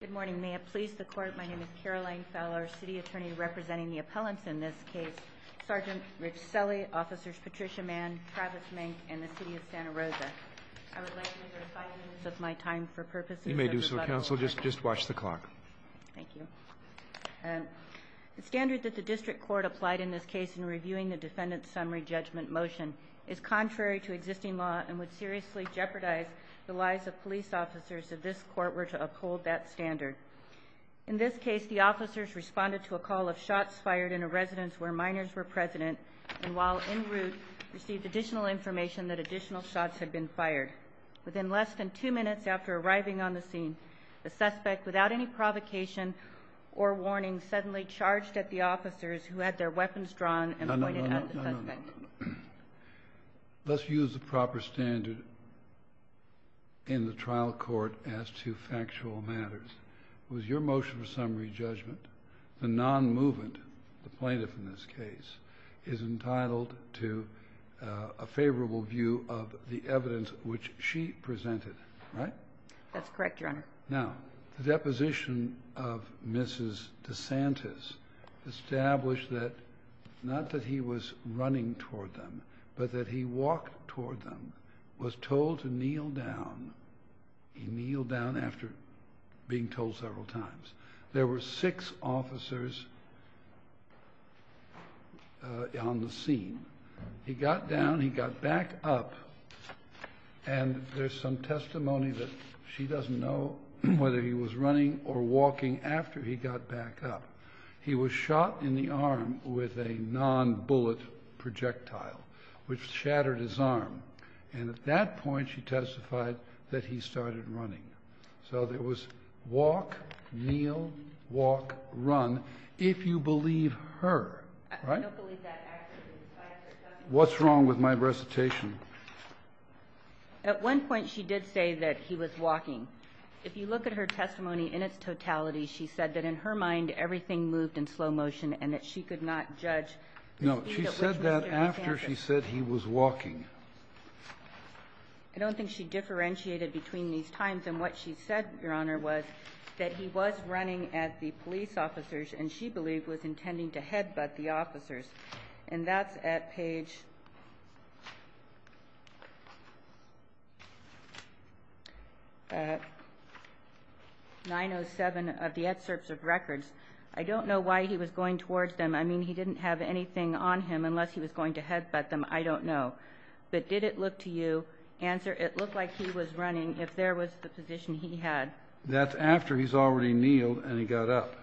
Good morning, may it please the Court, my name is Caroline Fowler, City Attorney representing the appellants in this case, Sgt. Rich Selle, Officers Patricia Mann, Travis Mink, and the City of Santa Rosa. I would like to reserve five minutes of my time for purposes of rebuttal. You may do so, Counsel, just watch the clock. Thank you. The standard that the District Court applied in this case in reviewing the Defendant's Summary Judgment Motion is contrary to existing law and would seriously jeopardize the lives of police officers if this Court were to uphold that standard. In this case, the officers responded to a call of shots fired in a residence where minors were present and, while en route, received additional information that additional shots had been fired. Within less than two minutes after arriving on the scene, the suspect, without any provocation or warning, suddenly charged at the officers who had their weapons drawn and pointed at the suspect. No, no, no. Let's use the proper standard in the trial court as to factual matters. I note here in the case, was your motion for summary judgment the non-movement, the plaintiff in this case, is entitled to a favorable view of the evidence which she presented, right? That's correct, Your Honor. Now, the deposition of Mrs. DeSantis established that, not that he was running toward them, but that he walked toward them, was told to kneel down. He kneeled down after being told several times. There were six officers on the scene. He got down, he got back up, and there's some testimony that she doesn't know whether he was running or walking after he got back up. He was shot in the arm with a non-bullet projectile, which shattered his arm. And at that point, she testified that he started running. So there was walk, kneel, walk, run, if you believe her, right? I don't believe that, actually. What's wrong with my recitation? At one point, she did say that he was walking. If you look at her testimony in its totality, she said that in her mind everything moved in slow motion and that she could not judge the speed at which Mr. DeSantis I don't think she differentiated between these times. And what she said, Your Honor, was that he was running at the police officers and she believed was intending to headbutt the officers. And that's at page 907 of the excerpts of records. I don't know why he was going towards them. I mean, he didn't have anything on him unless he was going to headbutt them. I don't know. But did it look to you, answer, it looked like he was running if there was the position he had. That's after he's already kneeled and he got up,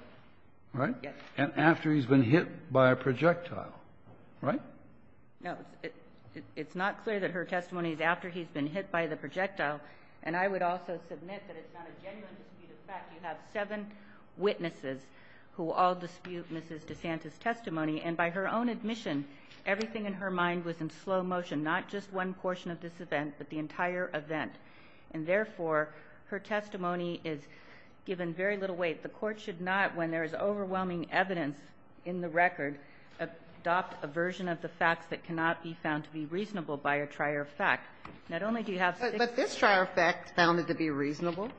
right? Yes. And after he's been hit by a projectile, right? No. It's not clear that her testimony is after he's been hit by the projectile. And I would also submit that it's not a genuine dispute of fact. You have seven witnesses who all dispute Mrs. DeSantis' testimony. And by her own admission, everything in her mind was in slow motion, not just one portion of this event, but the entire event. And therefore, her testimony is given very little weight. The Court should not, when there is overwhelming evidence in the record, adopt a version of the facts that cannot be found to be reasonable by a trier of fact. Not only do you have six witnesses. But this trier of fact found it to be reasonable.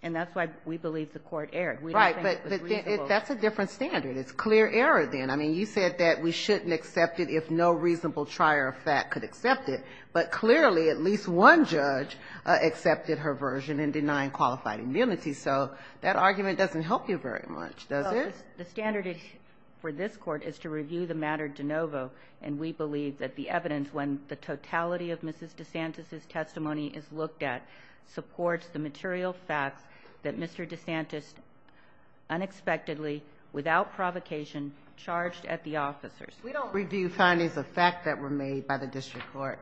And that's why we believe the Court erred. We don't think it was reasonable. Right. But that's a different standard. It's clear error, then. I mean, you said that we shouldn't accept it if no reasonable trier of fact could accept it. But clearly, at least one judge accepted her version in denying qualified immunity. So that argument doesn't help you very much, does it? The standard for this Court is to review the matter de novo. And we believe that the evidence, when the totality of Mrs. DeSantis' testimony is looked at, supports the material facts that Mr. DeSantis unexpectedly, without provocation, charged at the officers. We don't review findings of fact that were made by the district court.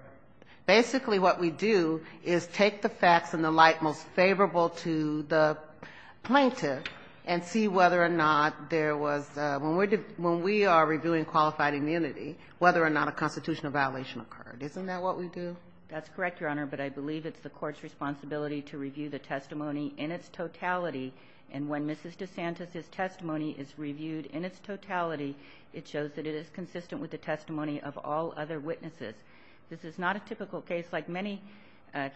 Basically, what we do is take the facts in the light most favorable to the plaintiff and see whether or not there was a – when we are reviewing qualified immunity, whether or not a constitutional violation occurred. Isn't that what we do? That's correct, Your Honor. But I believe it's the Court's responsibility to review the testimony in its totality. And when Mrs. DeSantis' testimony is reviewed in its totality, it shows that it is consistent with the testimony of all other witnesses. This is not a typical case like many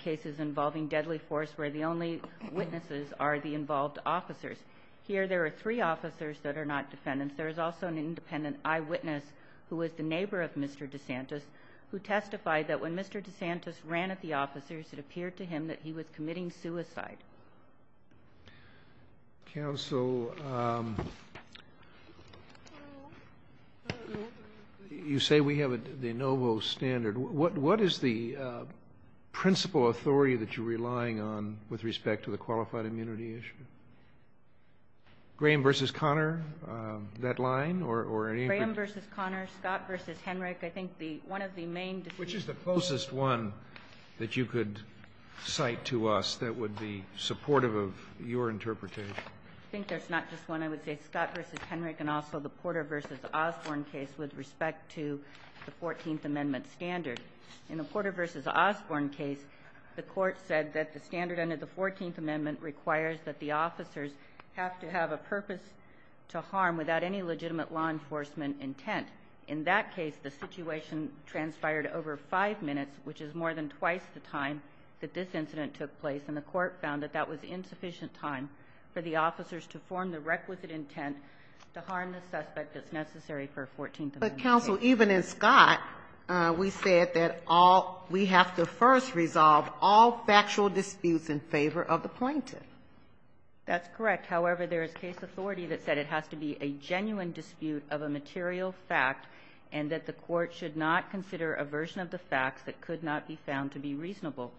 cases involving deadly force where the only witnesses are the involved officers. Here, there are three officers that are not defendants. There is also an independent eyewitness who is the neighbor of Mr. DeSantis who testified that when Mr. DeSantis ran at the officers, it appeared to him that he was committing suicide. Counsel, you say we have the NOVO standard. What is the principal authority that you're relying on with respect to the qualified immunity issue? Graham v. Conner, that line, or any other? Graham v. Conner, Scott v. Henrich. I think the one of the main decisions Which is the closest one that you could cite to us that would be supportive of your interpretation? I think there's not just one. I would say Scott v. Henrich and also the Porter v. Osborne case with respect to the 14th Amendment standard. In the Porter v. Osborne case, the Court said that the standard under the 14th Amendment requires that the officers have to have a purpose to harm without any legitimate law enforcement intent. In that case, the situation transpired over five minutes, which is more than twice the time that this incident took place. And the Court found that that was insufficient time for the officers to form the requisite intent to harm the suspect that's necessary for a 14th Amendment case. But, Counsel, even in Scott, we said that all we have to first resolve all factual disputes in favor of the plaintiff. That's correct. However, there is case authority that said it has to be a genuine dispute of a material fact and that the Court should not consider a version of the facts that could not be found to be reasonable.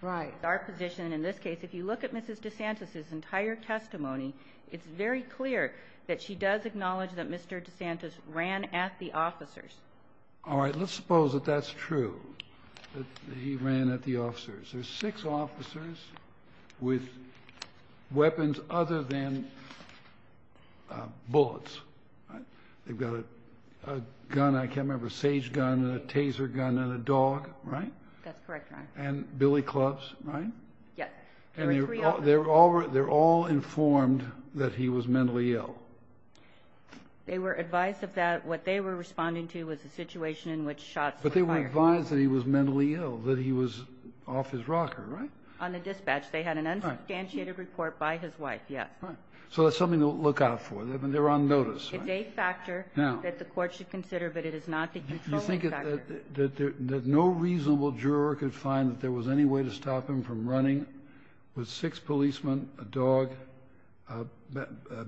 Right. Our position in this case, if you look at Mrs. DeSantis' entire testimony, it's very clear that she does acknowledge that Mr. DeSantis ran at the officers. All right. Let's suppose that that's true, that he ran at the officers. There's six officers with weapons other than bullets. They've got a gun, I can't remember, a sage gun and a taser gun and a dog, right? That's correct, Your Honor. And billy clubs, right? Yes. There were three of them. And they're all informed that he was mentally ill. They were advised of that. What they were responding to was the situation in which shots were fired. But they were advised that he was mentally ill, that he was off his rocker, right? On the dispatch. They had an unsubstantiated report by his wife, yes. Right. So that's something to look out for. They're on notice, right? It's a factor that the Court should consider, but it is not the controlling factor. Do you think that no reasonable juror could find that there was any way to stop him from running with six policemen, a dog,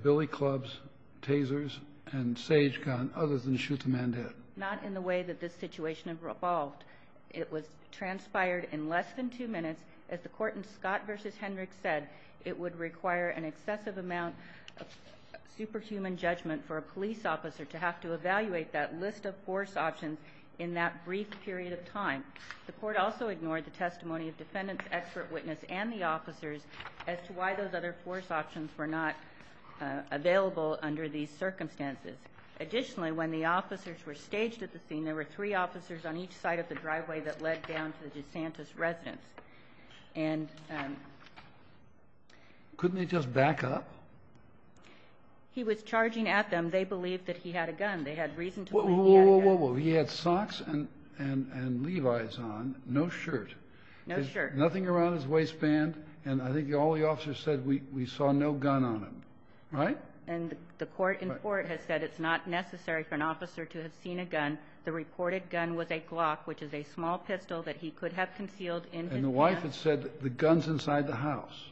billy clubs, tasers and sage gun, other than shoot the man dead? Not in the way that this situation evolved. It was transpired in less than two minutes. As the Court in Scott v. Hendricks said, it would require an excessive amount of superhuman judgment for a police officer to have to evaluate that list of force options in that brief period of time. The Court also ignored the testimony of defendants, expert witness and the officers as to why those other force options were not available under these circumstances. Additionally, when the officers were staged at the scene, there were three officers on each side of the driveway that led down to the DeSantis residence. Couldn't they just back up? He was charging at them. They believed that he had a gun. They had reason to believe he had a gun. Whoa, whoa, whoa. He had socks and Levi's on, no shirt. No shirt. Nothing around his waistband, and I think all the officers said we saw no gun on him. Right? And the Court in Fort has said it's not necessary for an officer to have seen a gun. The reported gun was a Glock, which is a small pistol that he could have concealed in his hand. And the wife had said the gun's inside the house.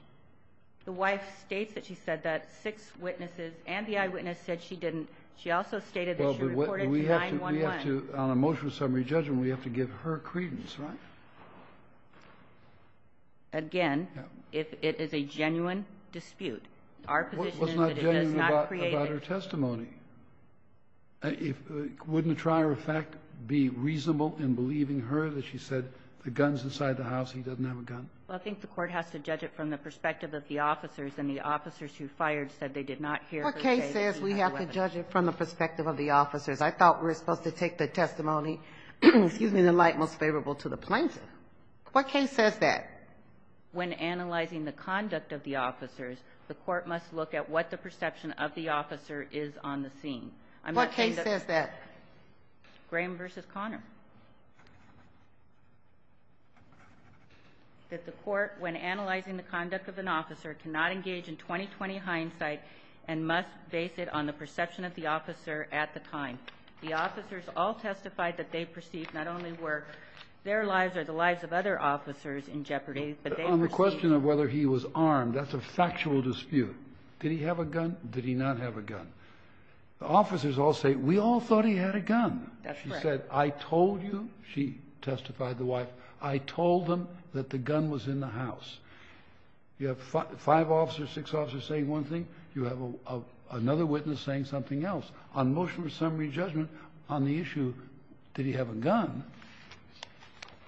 The wife states that she said that. Six witnesses and the eyewitness said she didn't. She also stated that she reported 9-1-1. Well, but we have to – we have to – on a motion of summary judgment, we have to give her credence, right? Again, it is a genuine dispute. Our position is that it does not create a – What's not genuine about her testimony? Wouldn't the trier of fact be reasonable in believing her that she said the gun's inside the house, he doesn't have a gun? Well, I think the Court has to judge it from the perspective of the officers, and the officers who fired said they did not hear her say that he had a weapon. What case says we have to judge it from the perspective of the officers? I thought we were supposed to take the testimony, excuse me, the light most favorable to the plaintiff. What case says that? When analyzing the conduct of the officers, the Court must look at what the perception of the officer is on the scene. I'm not saying that – What case says that? Graham v. Conner. That the Court, when analyzing the conduct of an officer, cannot engage in 20-20 hindsight and must base it on the perception of the officer at the time. But on the question of whether he was armed, that's a factual dispute. Did he have a gun? Did he not have a gun? The officers all say, we all thought he had a gun. That's right. She said, I told you, she testified, the wife, I told them that the gun was in the house. You have five officers, six officers saying one thing. You have another witness saying something else. On motion for summary judgment, on the issue, did he have a gun,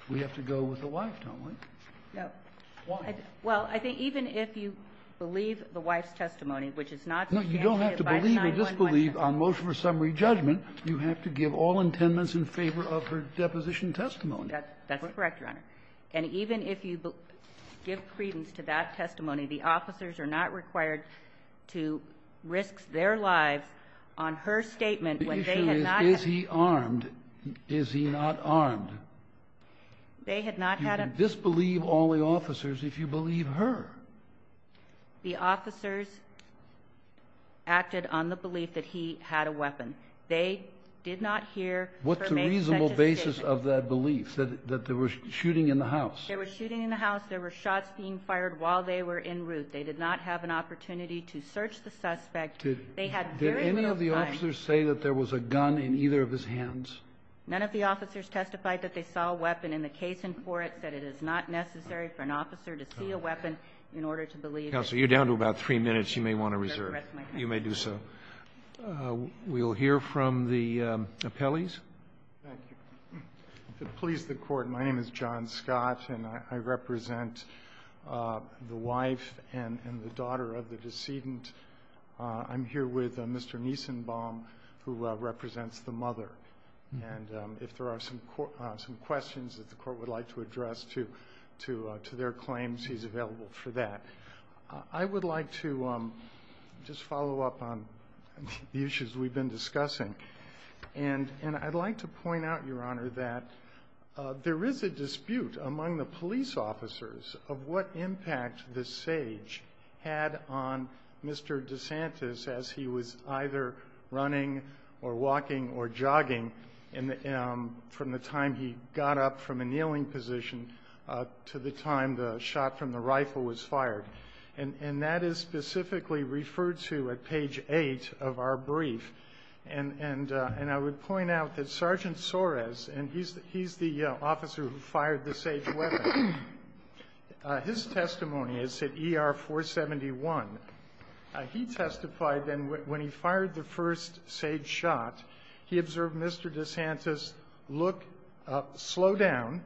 we have to go with the wife, don't we? No. Why? Well, I think even if you believe the wife's testimony, which is not to be answered by a 911 call. No, you don't have to believe or disbelieve on motion for summary judgment. You have to give all intendance in favor of her deposition testimony. That's correct, Your Honor. And even if you give credence to that testimony, the officers are not required to risk their lives on her statement when they had not had a gun. The issue is, is he armed? Is he not armed? They had not had a gun. You can disbelieve all the officers if you believe her. The officers acted on the belief that he had a weapon. They did not hear her make such a statement. What's the reasonable basis of that belief, that there was shooting in the house? There was shooting in the house. There were shots being fired while they were en route. They did not have an opportunity to search the suspect. They had very little time. Did any of the officers say that there was a gun in either of his hands? None of the officers testified that they saw a weapon in the case and court said it is not necessary for an officer to see a weapon in order to believe. Counsel, you're down to about three minutes. You may want to reserve. You may do so. We'll hear from the appellees. Thank you. To please the Court, my name is John Scott, and I represent the wife and the daughter of the decedent. I'm here with Mr. Niesenbaum, who represents the mother. And if there are some questions that the Court would like to address to their claims, he's available for that. I would like to just follow up on the issues we've been discussing. And I'd like to point out, Your Honor, that there is a dispute among the police officers of what impact the SAGE had on Mr. DeSantis as he was either running or walking or jogging from the time he got up from a kneeling position to the time the shot from the rifle was fired. And that is specifically referred to at page 8 of our brief. And I would point out that Sergeant Soares, and he's the officer who fired the SAGE weapon, his testimony is at ER 471. He testified that when he fired the first SAGE shot, he observed Mr. DeSantis slow down,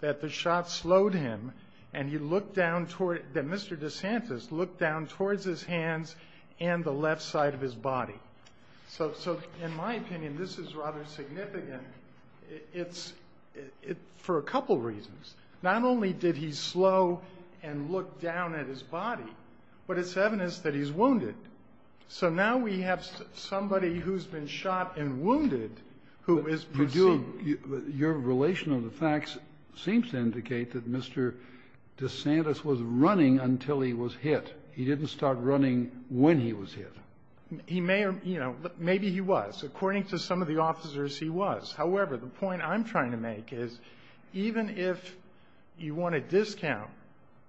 that the shot slowed him, and he looked down toward Mr. DeSantis looked down towards his hands and the left side of his body. So in my opinion, this is rather significant. It's for a couple reasons. Not only did he slow and look down at his body, but it's evident that he's wounded. So now we have somebody who's been shot and wounded who is perceived. Your relation of the facts seems to indicate that Mr. DeSantis was running until he was hit. He didn't start running when he was hit. He may have, you know, maybe he was. According to some of the officers, he was. However, the point I'm trying to make is even if you want to discount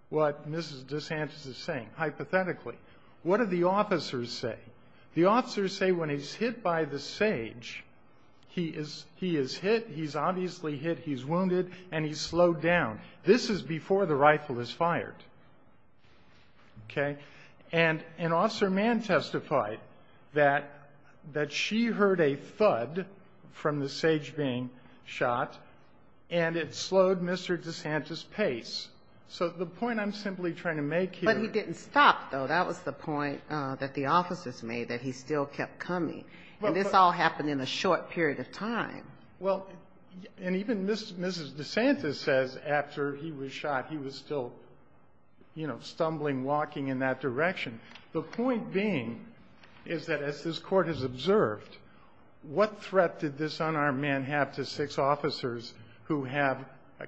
what Mrs. DeSantis is saying, hypothetically, what do the officers say? The officers say when he's hit by the SAGE, he is hit, he's obviously hit, he's wounded, and he's slowed down. This is before the rifle is fired. Okay? And Officer Mann testified that she heard a thud from the SAGE being shot, and it slowed Mr. DeSantis' pace. So the point I'm simply trying to make here ---- But he didn't stop, though. That was the point that the officers made, that he still kept coming. And this all happened in a short period of time. Well, and even Mrs. DeSantis says after he was shot, he was still, you know, stumbling, walking in that direction. The point being is that as this Court has observed, what threat did this unarmed man have to six officers who have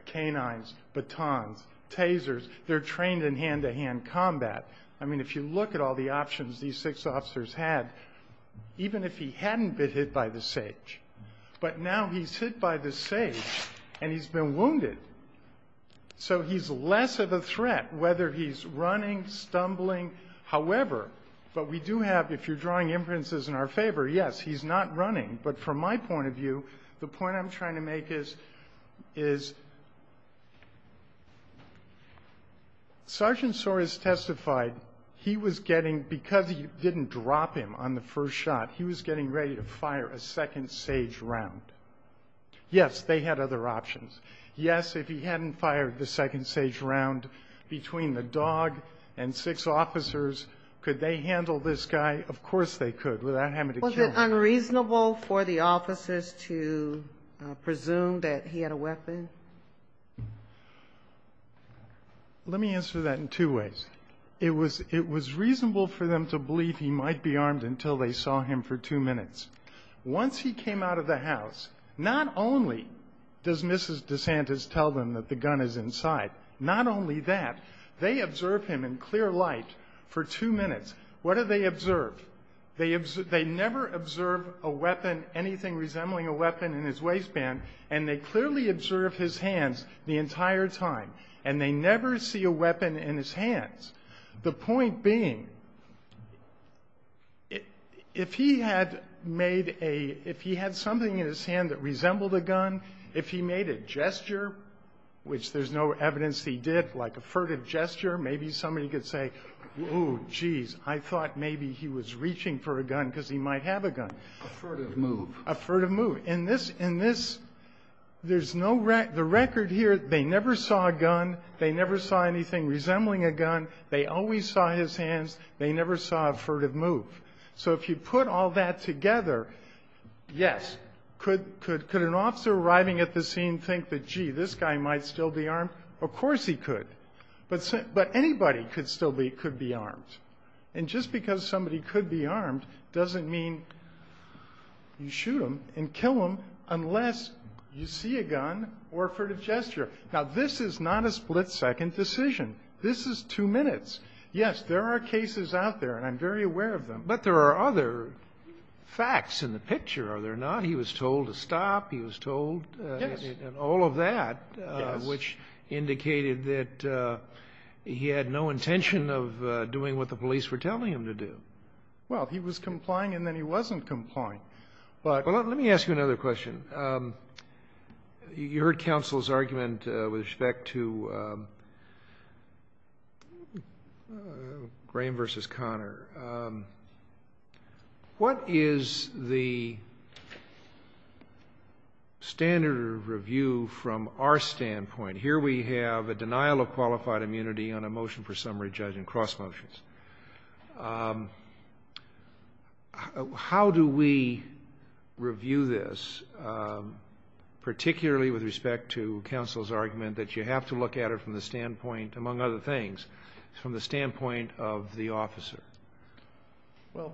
canines, batons, tasers? They're trained in hand-to-hand combat. I mean, if you look at all the options these six officers had, even if he hadn't been hit by the SAGE, but now he's hit by the SAGE and he's been wounded. So he's less of a threat, whether he's running, stumbling. However, what we do have, if you're drawing inferences in our favor, yes, he's not running. But from my point of view, the point I'm trying to make is Sergeant Soares testified he was getting ---- Yes, they had other options. Yes, if he hadn't fired the second SAGE round between the dog and six officers, could they handle this guy? Of course they could, without having to kill him. Was it unreasonable for the officers to presume that he had a weapon? Let me answer that in two ways. It was reasonable for them to believe he might be armed until they saw him for two minutes. Once he came out of the house, not only does Mrs. DeSantis tell them that the gun is inside, not only that, they observe him in clear light for two minutes. What do they observe? They never observe a weapon, anything resembling a weapon, in his waistband, and they clearly observe his hands the entire time, and they never see a weapon in his hands. The point being, if he had made a ---- if he had something in his hand that resembled a gun, if he made a gesture, which there's no evidence he did, like a furtive gesture, maybe somebody could say, oh, geez, I thought maybe he was reaching for a gun because he might have a gun. A furtive move. A furtive move. In this, there's no record here. They never saw a gun. They never saw anything resembling a gun. They always saw his hands. They never saw a furtive move. So if you put all that together, yes, could an officer arriving at the scene think that, gee, this guy might still be armed? Of course he could. But anybody could still be armed. And just because somebody could be armed doesn't mean you shoot them and kill them unless you see a gun or a furtive gesture. Now, this is not a split-second decision. This is two minutes. Yes, there are cases out there, and I'm very aware of them. But there are other facts in the picture, are there not? He was told ---- Yes. And all of that, which indicated that he had no intention of doing what the police were telling him to do. Well, he was complying, and then he wasn't complying. Let me ask you another question. You heard counsel's argument with respect to Graham v. Conner. What is the standard review from our standpoint? Here we have a denial of qualified immunity on a motion for summary judge and cross motions. How do we review this, particularly with respect to counsel's argument that you have to look at it from the standpoint, among other things, from the standpoint of the officer? Well,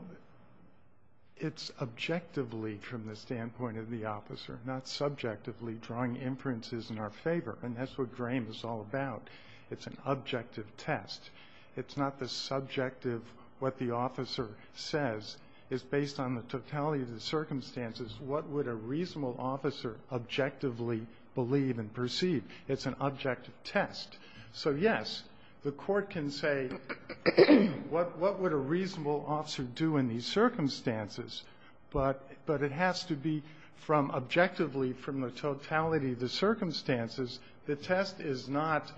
it's objectively from the standpoint of the officer, not subjectively drawing inferences in our favor. And that's what Graham is all about. It's an objective test. It's not the subjective, what the officer says. It's based on the totality of the circumstances. What would a reasonable officer objectively believe and perceive? It's an objective test. So, yes, the Court can say, what would a reasonable officer do in these circumstances? But it has to be from objectively, from the totality of the circumstances. The test is not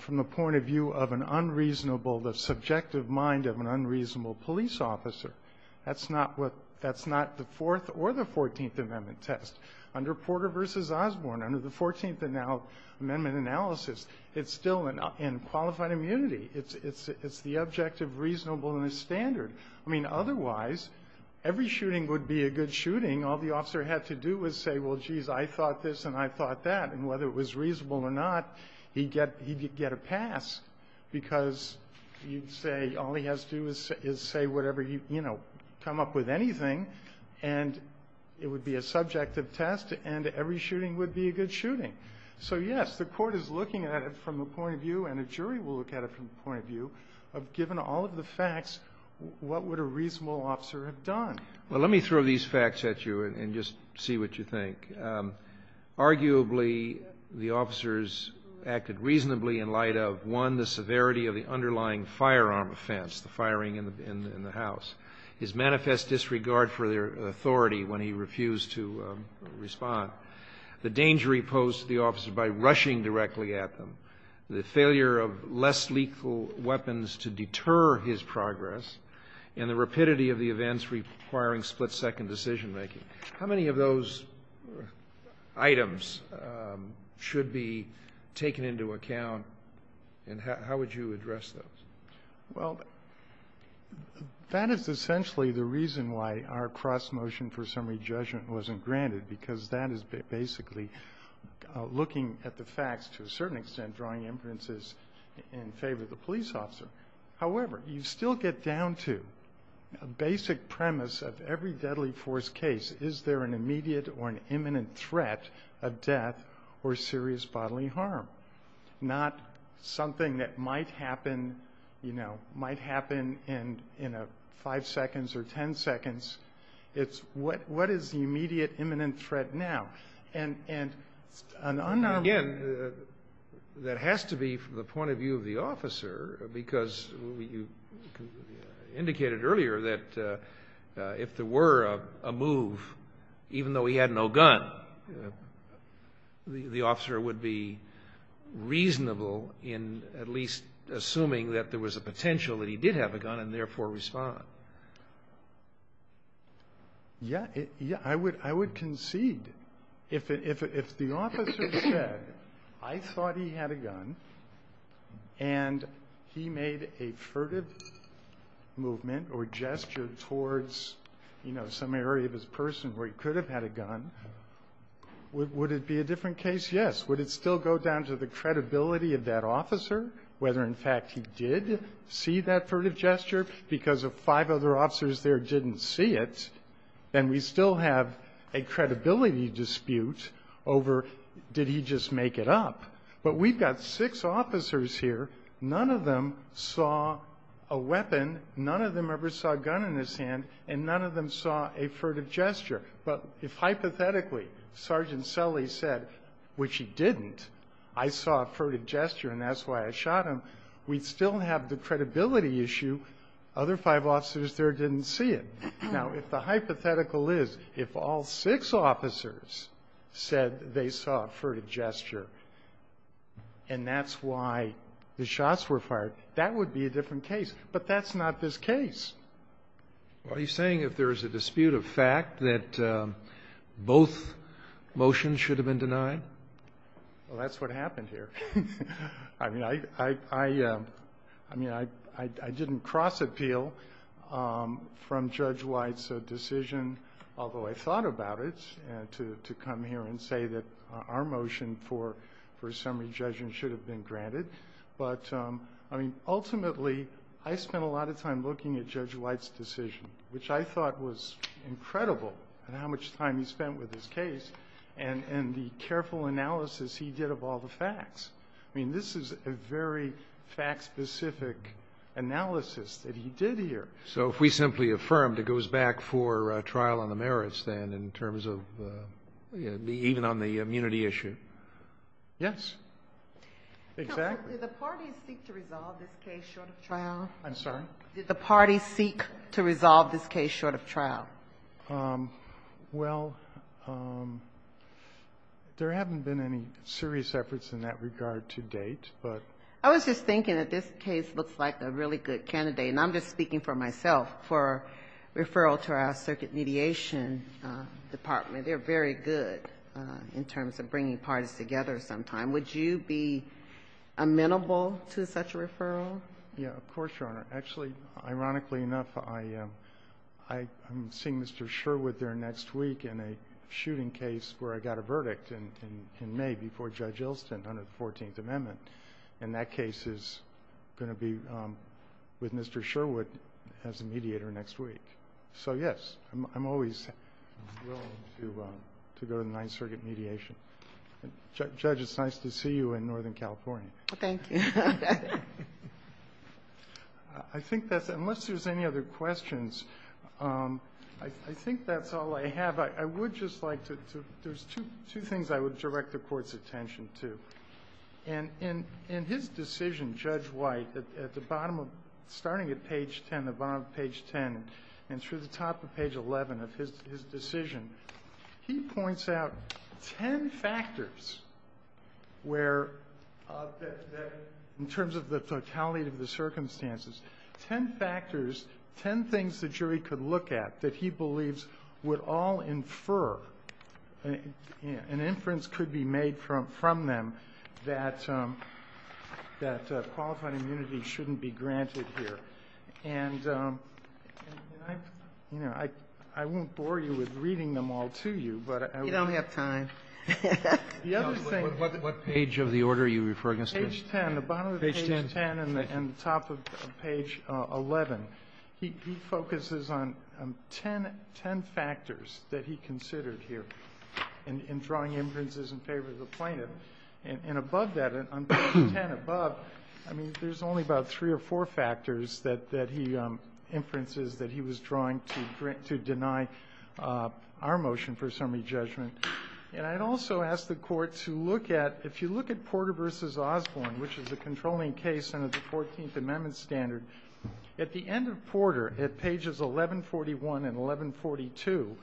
from the point of view of an unreasonable, the subjective mind of an unreasonable police officer. That's not what the Fourth or the Fourteenth Amendment test. Under Porter v. Osborne, under the Fourteenth Amendment analysis, it's still in qualified immunity. It's the objective reasonable in the standard. I mean, otherwise, every shooting would be a good shooting. All the officer had to do was say, well, geez, I thought this and I thought that. And whether it was reasonable or not, he'd get a pass, because you'd say all he has to do is say whatever, you know, come up with anything, and it would be a subjective test, and every shooting would be a good shooting. So, yes, the Court is looking at it from a point of view, and a jury will look at it from a point of view, of given all of the facts, what would a reasonable officer have done? Well, let me throw these facts at you and just see what you think. Arguably, the officers acted reasonably in light of, one, the severity of the underlying firearm offense, the firing in the house, his manifest disregard for their authority when he refused to respond, the danger he posed to the officers by rushing directly at them, the failure of less lethal weapons to deter his progress, and the rapidity of the events requiring split-second decision-making. How many of those items should be taken into account, and how would you address those? Well, that is essentially the reason why our cross-motion for summary judgment wasn't granted, because that is basically looking at the facts to a certain extent, drawing inferences in favor of the police officer. However, you still get down to a basic premise of every deadly force case. Is there an immediate or an imminent threat of death or serious bodily harm? Not something that might happen, you know, might happen in five seconds or ten seconds. It's what is the immediate imminent threat now. Again, that has to be from the point of view of the officer, because you indicated earlier that if there were a move, even though he had no gun, the officer would be reasonable in at least assuming that there was a potential that he did have a gun and therefore respond. So, yeah, I would concede. If the officer said, I thought he had a gun, and he made a furtive movement or gesture towards, you know, some area of his person where he could have had a gun, would it be a different case? Yes. Would it still go down to the credibility of that officer, whether, in fact, he did see that furtive gesture because of five other officers there didn't see it, then we still have a credibility dispute over did he just make it up. But we've got six officers here. None of them saw a weapon. None of them ever saw a gun in his hand. And none of them saw a furtive gesture. But if hypothetically Sergeant Selle said, which he didn't, I saw a furtive gesture and that's why I shot him, we'd still have the credibility issue. Other five officers there didn't see it. Now, if the hypothetical is if all six officers said they saw a furtive gesture and that's why the shots were fired, that would be a different case. But that's not this case. Well, are you saying if there is a dispute of fact that both motions should have been denied? Well, that's what happened here. I mean, I didn't cross-appeal from Judge White's decision, although I thought about it, to come here and say that our motion for a summary judgment should have been granted. But, I mean, ultimately I spent a lot of time looking at Judge White's decision, which I thought was incredible in how much time he spent with his case and the merits. I mean, this is a very fact-specific analysis that he did here. So if we simply affirmed, it goes back for a trial on the merits, then, in terms of even on the immunity issue. Yes? Exactly. Did the parties seek to resolve this case short of trial? Did the parties seek to resolve this case short of trial? Well, there haven't been any serious efforts in that regard to date, but. I was just thinking that this case looks like a really good candidate, and I'm just speaking for myself, for referral to our circuit mediation department. They're very good in terms of bringing parties together sometime. Would you be amenable to such a referral? Yes, of course, Your Honor. Actually, ironically enough, I'm seeing Mr. Sherwood there next week in a shooting case where I got a verdict in May before Judge Ilston under the 14th Amendment. And that case is going to be with Mr. Sherwood as a mediator next week. So, yes, I'm always willing to go to the Ninth Circuit mediation. Judge, it's nice to see you in Northern California. Thank you. I think that's it. Unless there's any other questions, I think that's all I have. I would just like to do two things I would direct the Court's attention to. In his decision, Judge White, at the bottom of the page, starting at page 10, the bottom of page 10, and through the top of page 11 of his decision, he points out ten factors where, in terms of the totality of the circumstances, ten factors, ten things the jury could look at that he believes would all infer, an inference could be made from them that qualified immunity shouldn't be granted here. And, you know, I won't bore you with reading them all to you, but I will. I don't have time. What page of the order are you referring to? Page 10. Page 10. The bottom of page 10 and the top of page 11. He focuses on ten factors that he considered here in drawing inferences in favor of the plaintiff, and above that, on page 10 above, I mean, there's only about three or four factors that he inferences that he was drawing to deny our motion for summary judgment. And I'd also ask the Court to look at, if you look at Porter v. Osborne, which is a controlling case under the Fourteenth Amendment standard, at the end of Porter, at pages 1141 and 1142,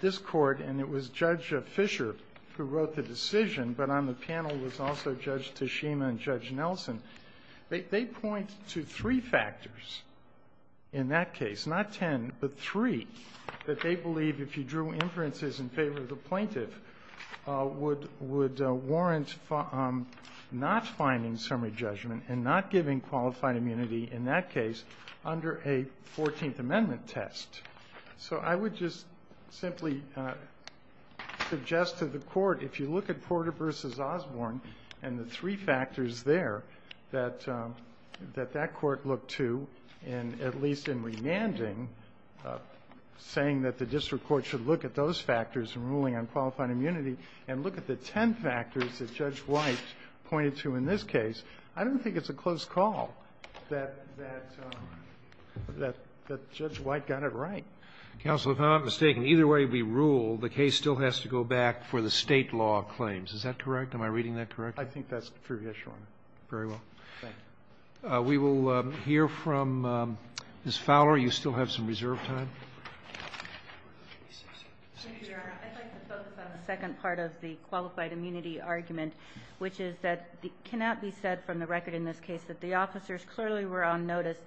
this Court, and it was Judge Fisher who wrote the decision, but on the panel was also Judge Toshima and Judge Nelson, they point to three factors there that they believe, if you drew inferences in favor of the plaintiff, would warrant not finding summary judgment and not giving qualified immunity in that case under a Fourteenth Amendment test. So I would just simply suggest to the Court, if you look at Porter v. Osborne and the three factors there that that Court looked to, and at least in remanding, saying that the district court should look at those factors in ruling on qualified immunity, and look at the ten factors that Judge White pointed to in this case, I don't think it's a close call that Judge White got it right. Kennedy. Counsel, if I'm not mistaken, either way we rule, the case still has to go back for the State law claims. Is that correct? Am I reading that correctly? I think that's pretty assured. Very well. Thank you. We will hear from Ms. Fowler. You still have some reserve time. Mr. Chairman, I'd like to focus on the second part of the qualified immunity argument, which is that it cannot be said from the record in this case that the officers clearly were on notice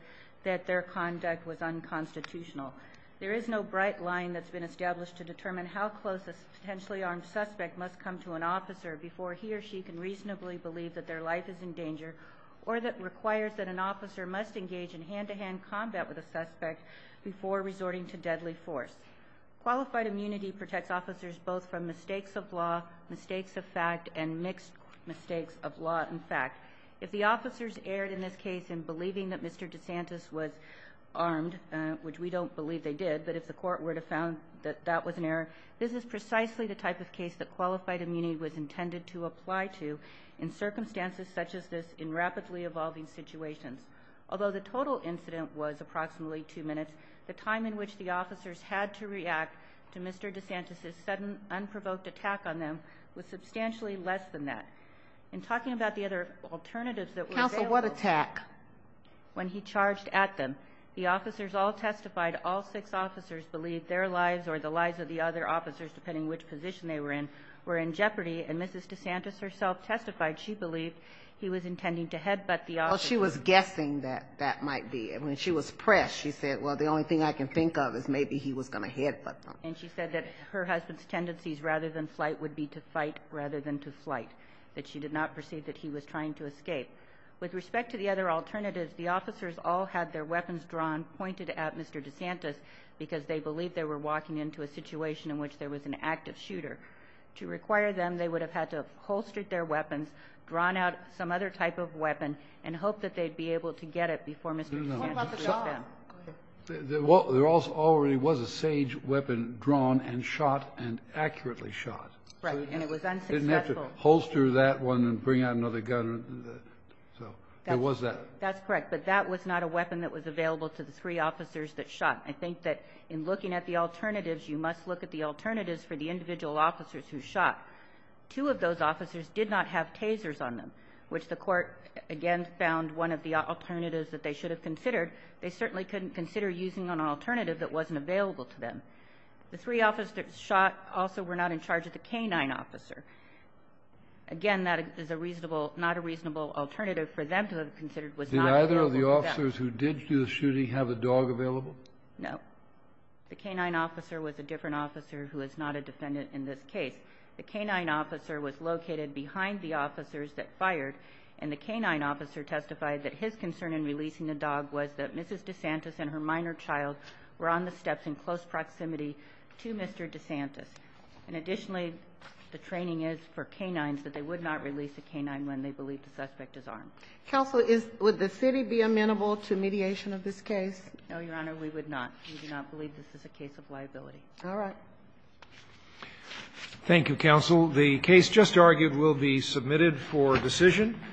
that their conduct was unconstitutional. There is no bright line that's been established to determine how close a potentially armed suspect must come to an officer before he or she can reasonably believe that their life is in danger, or that requires that an officer must engage in hand-to-hand combat with a suspect before resorting to deadly force. Qualified immunity protects officers both from mistakes of law, mistakes of fact, and mixed mistakes of law and fact. If the officers erred in this case in believing that Mr. DeSantis was armed, which we don't believe they did, but if the court were to have found that that was an error, this is precisely the type of case that qualified immunity was intended to apply to in circumstances such as this in rapidly evolving situations. Although the total incident was approximately two minutes, the time in which the officers had to react to Mr. DeSantis' sudden, unprovoked attack on them was substantially less than that. In talking about the other alternatives that were available... Counsel, what attack? When he charged at them, the officers all testified all six officers believed their lives or the lives of the other officers, depending on which position they were in, were in jeopardy, and Mrs. DeSantis herself testified she believed he was intending to headbutt the officers. Well, she was guessing that that might be. When she was pressed, she said, well, the only thing I can think of is maybe he was going to headbutt them. And she said that her husband's tendencies rather than flight would be to fight rather than to flight, that she did not perceive that he was trying to escape. With respect to the other alternatives, the officers all had their weapons drawn, pointed at Mr. DeSantis because they believed they were walking into a situation in which there was an active shooter. To require them, they would have had to have holstered their weapons, drawn out some other type of weapon, and hoped that they'd be able to get it before Mr. DeSantis reached them. There also already was a sage weapon drawn and shot and accurately shot. Right. And it was unsuccessful. They didn't have to holster that one and bring out another gun. So there was that. That's correct. But that was not a weapon that was available to the three officers that shot. I think that in looking at the alternatives, you must look at the alternatives for the individual officers who shot. Two of those officers did not have tasers on them, which the Court, again, found one of the alternatives that they should have considered. They certainly couldn't consider using an alternative that wasn't available to them. The three officers that shot also were not in charge of the canine officer. Again, that is a reasonable, not a reasonable alternative for them to have considered was not available to them. Did either of the officers who did do the shooting have a dog available? No. The canine officer was a different officer who is not a defendant in this case. The canine officer was located behind the officers that fired, and the canine officer testified that his concern in releasing the dog was that Mrs. DeSantis and her minor child were on the steps in close proximity to Mr. DeSantis. And additionally, the training is for canines that they would not release a canine when they believe the suspect is armed. Counsel, would the city be amenable to mediation of this case? No, Your Honor, we would not. We do not believe this is a case of liability. All right. Thank you, counsel. The case just argued will be submitted for decision.